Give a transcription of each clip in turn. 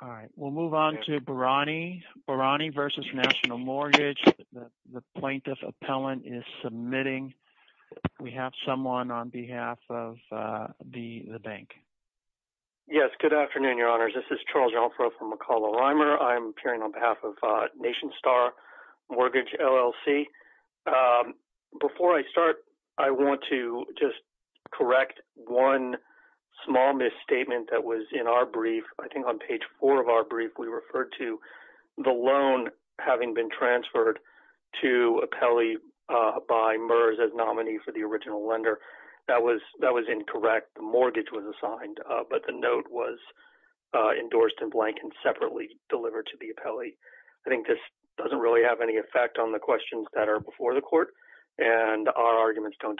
All right, we'll move on to Borrani. Borrani v. National Mortgage. The plaintiff appellant is submitting. We have someone on behalf of the bank. Yes, good afternoon, Your Honors. This is Charles Ralfro from McCulloch-Reimer. I'm appearing on behalf of Nationstar Mortgage LLC. Before I start, I want to just correct one small misstatement that was in our brief, I think on page four of our brief, we referred to the loan having been transferred to appellee by MERS as nominee for the original lender. That was incorrect. The mortgage was assigned, but the note was endorsed in blank and separately delivered to the appellee. I think this doesn't really have any effect on the questions that are before the court, and our arguments don't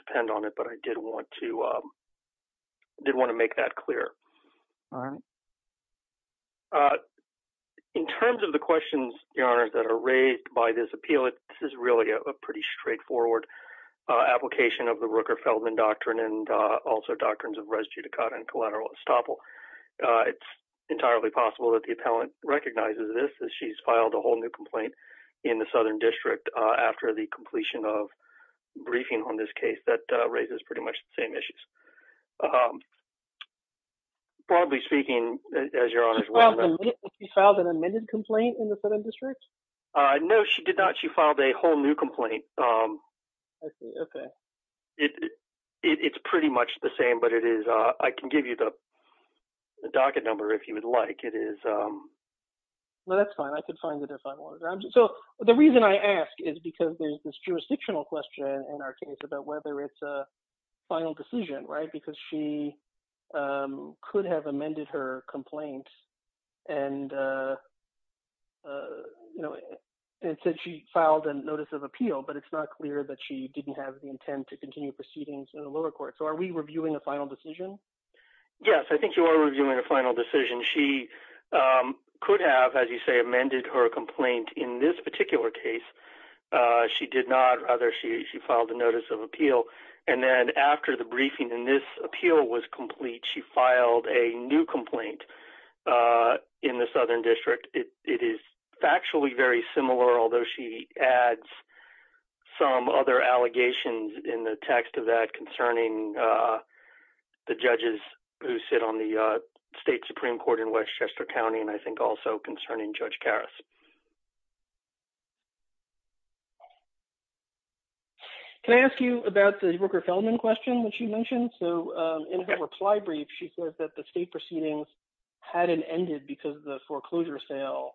In terms of the questions, Your Honors, that are raised by this appeal, this is really a pretty straightforward application of the Rooker-Feldman doctrine and also doctrines of res judicata and collateral estoppel. It's entirely possible that the appellant recognizes this as she's filed a whole new complaint in the Southern District after the completion of briefing on this case. That raises pretty much the same issues. Broadly speaking, as Your Honors... She filed an amended complaint in the Southern District? No, she did not. She filed a whole new complaint. I see. Okay. It's pretty much the same, but I can give you the docket number if you would like. That's fine. I could find it if I wanted. The reason I ask is because there's this jurisdictional question in our case about whether it's a final decision, because she could have amended her complaint and said she filed a notice of appeal, but it's not clear that she didn't have the intent to continue proceedings in the lower court. Are we reviewing a final decision? Yes, I think you are reviewing a final decision. She could have, as you say, amended her complaint in this particular case. She did not. Rather, she filed a notice of appeal, and then after the briefing and this appeal was complete, she filed a new complaint in the Southern District. It is factually very similar, although she adds some other allegations in the text of that concerning the judges who sit on the State Supreme Court in Westchester County, and I think also concerning Judge Karras. Can I ask you about the Rooker-Feldman question that she mentioned? In her reply brief, she said that the state proceedings hadn't ended because the foreclosure sale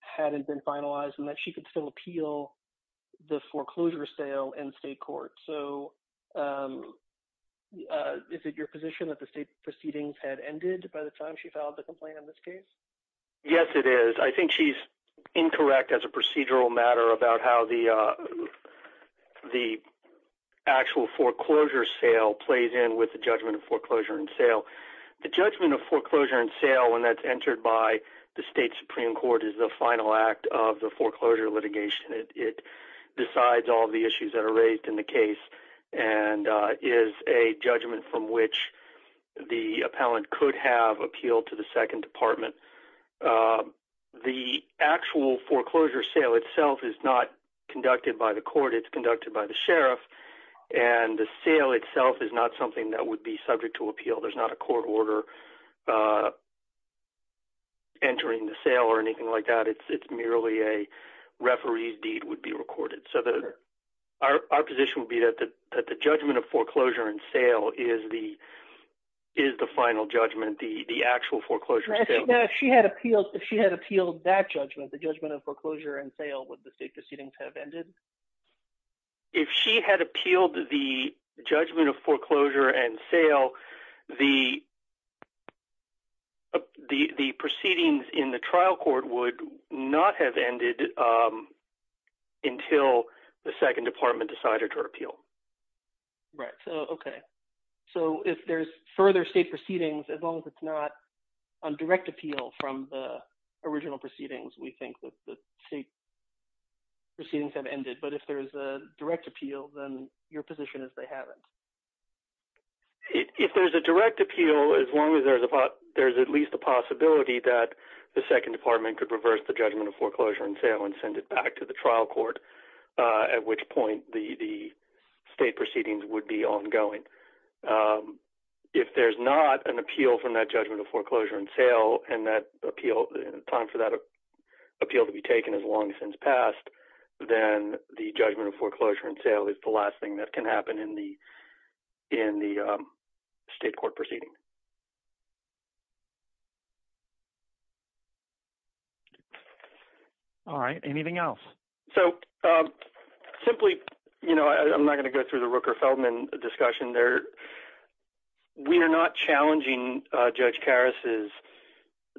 hadn't been finalized and that she could still appeal the foreclosure sale in state court. Is it your position that the state proceedings had ended by the time she filed the complaint in this case? Yes, it is. I think she's incorrect as a procedural matter about how the actual foreclosure sale plays in with the judgment of foreclosure and sale. The judgment of foreclosure and sale, when that's entered by the State Supreme Court, is the final act of the foreclosure litigation. It decides all the issues that are raised in the case and is a judgment from which the appellant could have appealed to the Second Department. The actual foreclosure sale itself is not conducted by the court. It's conducted by the sheriff, and the sale itself is not something that would be subject to appeal. There's not a court order entering the sale or anything like that. It's merely a referee's deed would be recorded. Our position would be that the judgment of foreclosure and sale is the final judgment, the actual foreclosure sale. If she had appealed that judgment, the judgment of foreclosure and sale, would the state proceedings have ended? If she had appealed the judgment of foreclosure and sale, the Second Department decided to appeal. If there's further state proceedings, as long as it's not a direct appeal from the original proceedings, we think that the state proceedings have ended. If there's a direct appeal, then your position is they haven't. If there's a direct appeal, as long as there's at least a possibility that the Second Department could reverse the judgment of foreclosure and sale and send it back to the trial court, at which point the state proceedings would be ongoing. If there's not an appeal from that judgment of foreclosure and sale and time for that appeal to be taken as long as it's passed, then the judgment of foreclosure and sale is the last thing that can happen in the state court proceeding. All right, anything else? So simply, you know, I'm not going to go through the Rooker-Feldman discussion there. We are not challenging Judge Karas's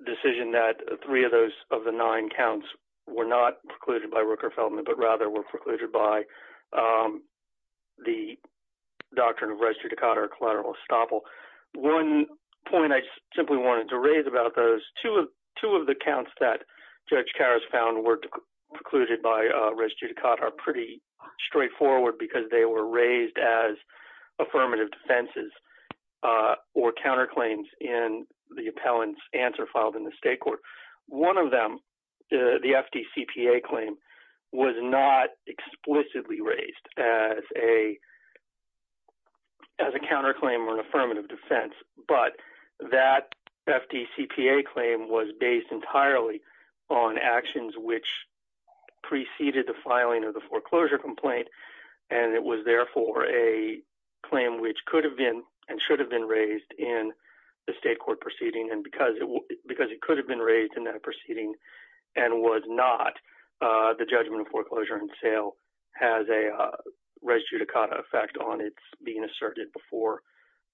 decision that three of those of the nine counts were not precluded by Rooker-Feldman, but rather were precluded by the doctrine of res judicata or collateral estoppel. One point I simply wanted to raise about those, two of the counts that Judge Karas found were precluded by res judicata are pretty straightforward because they were raised as affirmative defenses or counterclaims in the appellant's answer filed in the state court. One of them, the FDCPA claim, was not explicitly raised as a counterclaim or an affirmative defense, but that FDCPA claim was based entirely on actions which preceded the filing of the foreclosure complaint, and it was therefore a claim which could have been and should have been raised in the state court proceeding because it could have been raised in that proceeding and was not the judgment of has a res judicata effect on its being asserted before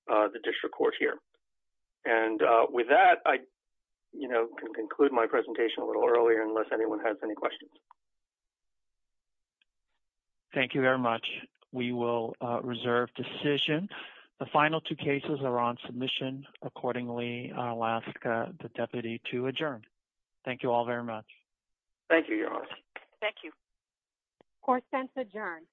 the district court here. And with that, I can conclude my presentation a little earlier unless anyone has any questions. Thank you very much. We will reserve decision. The final two cases are on submission. Accordingly, I'll ask the deputy to adjourn. Thank you all very much. Thank you, Your Honor. Thank you. Court sent to adjourn.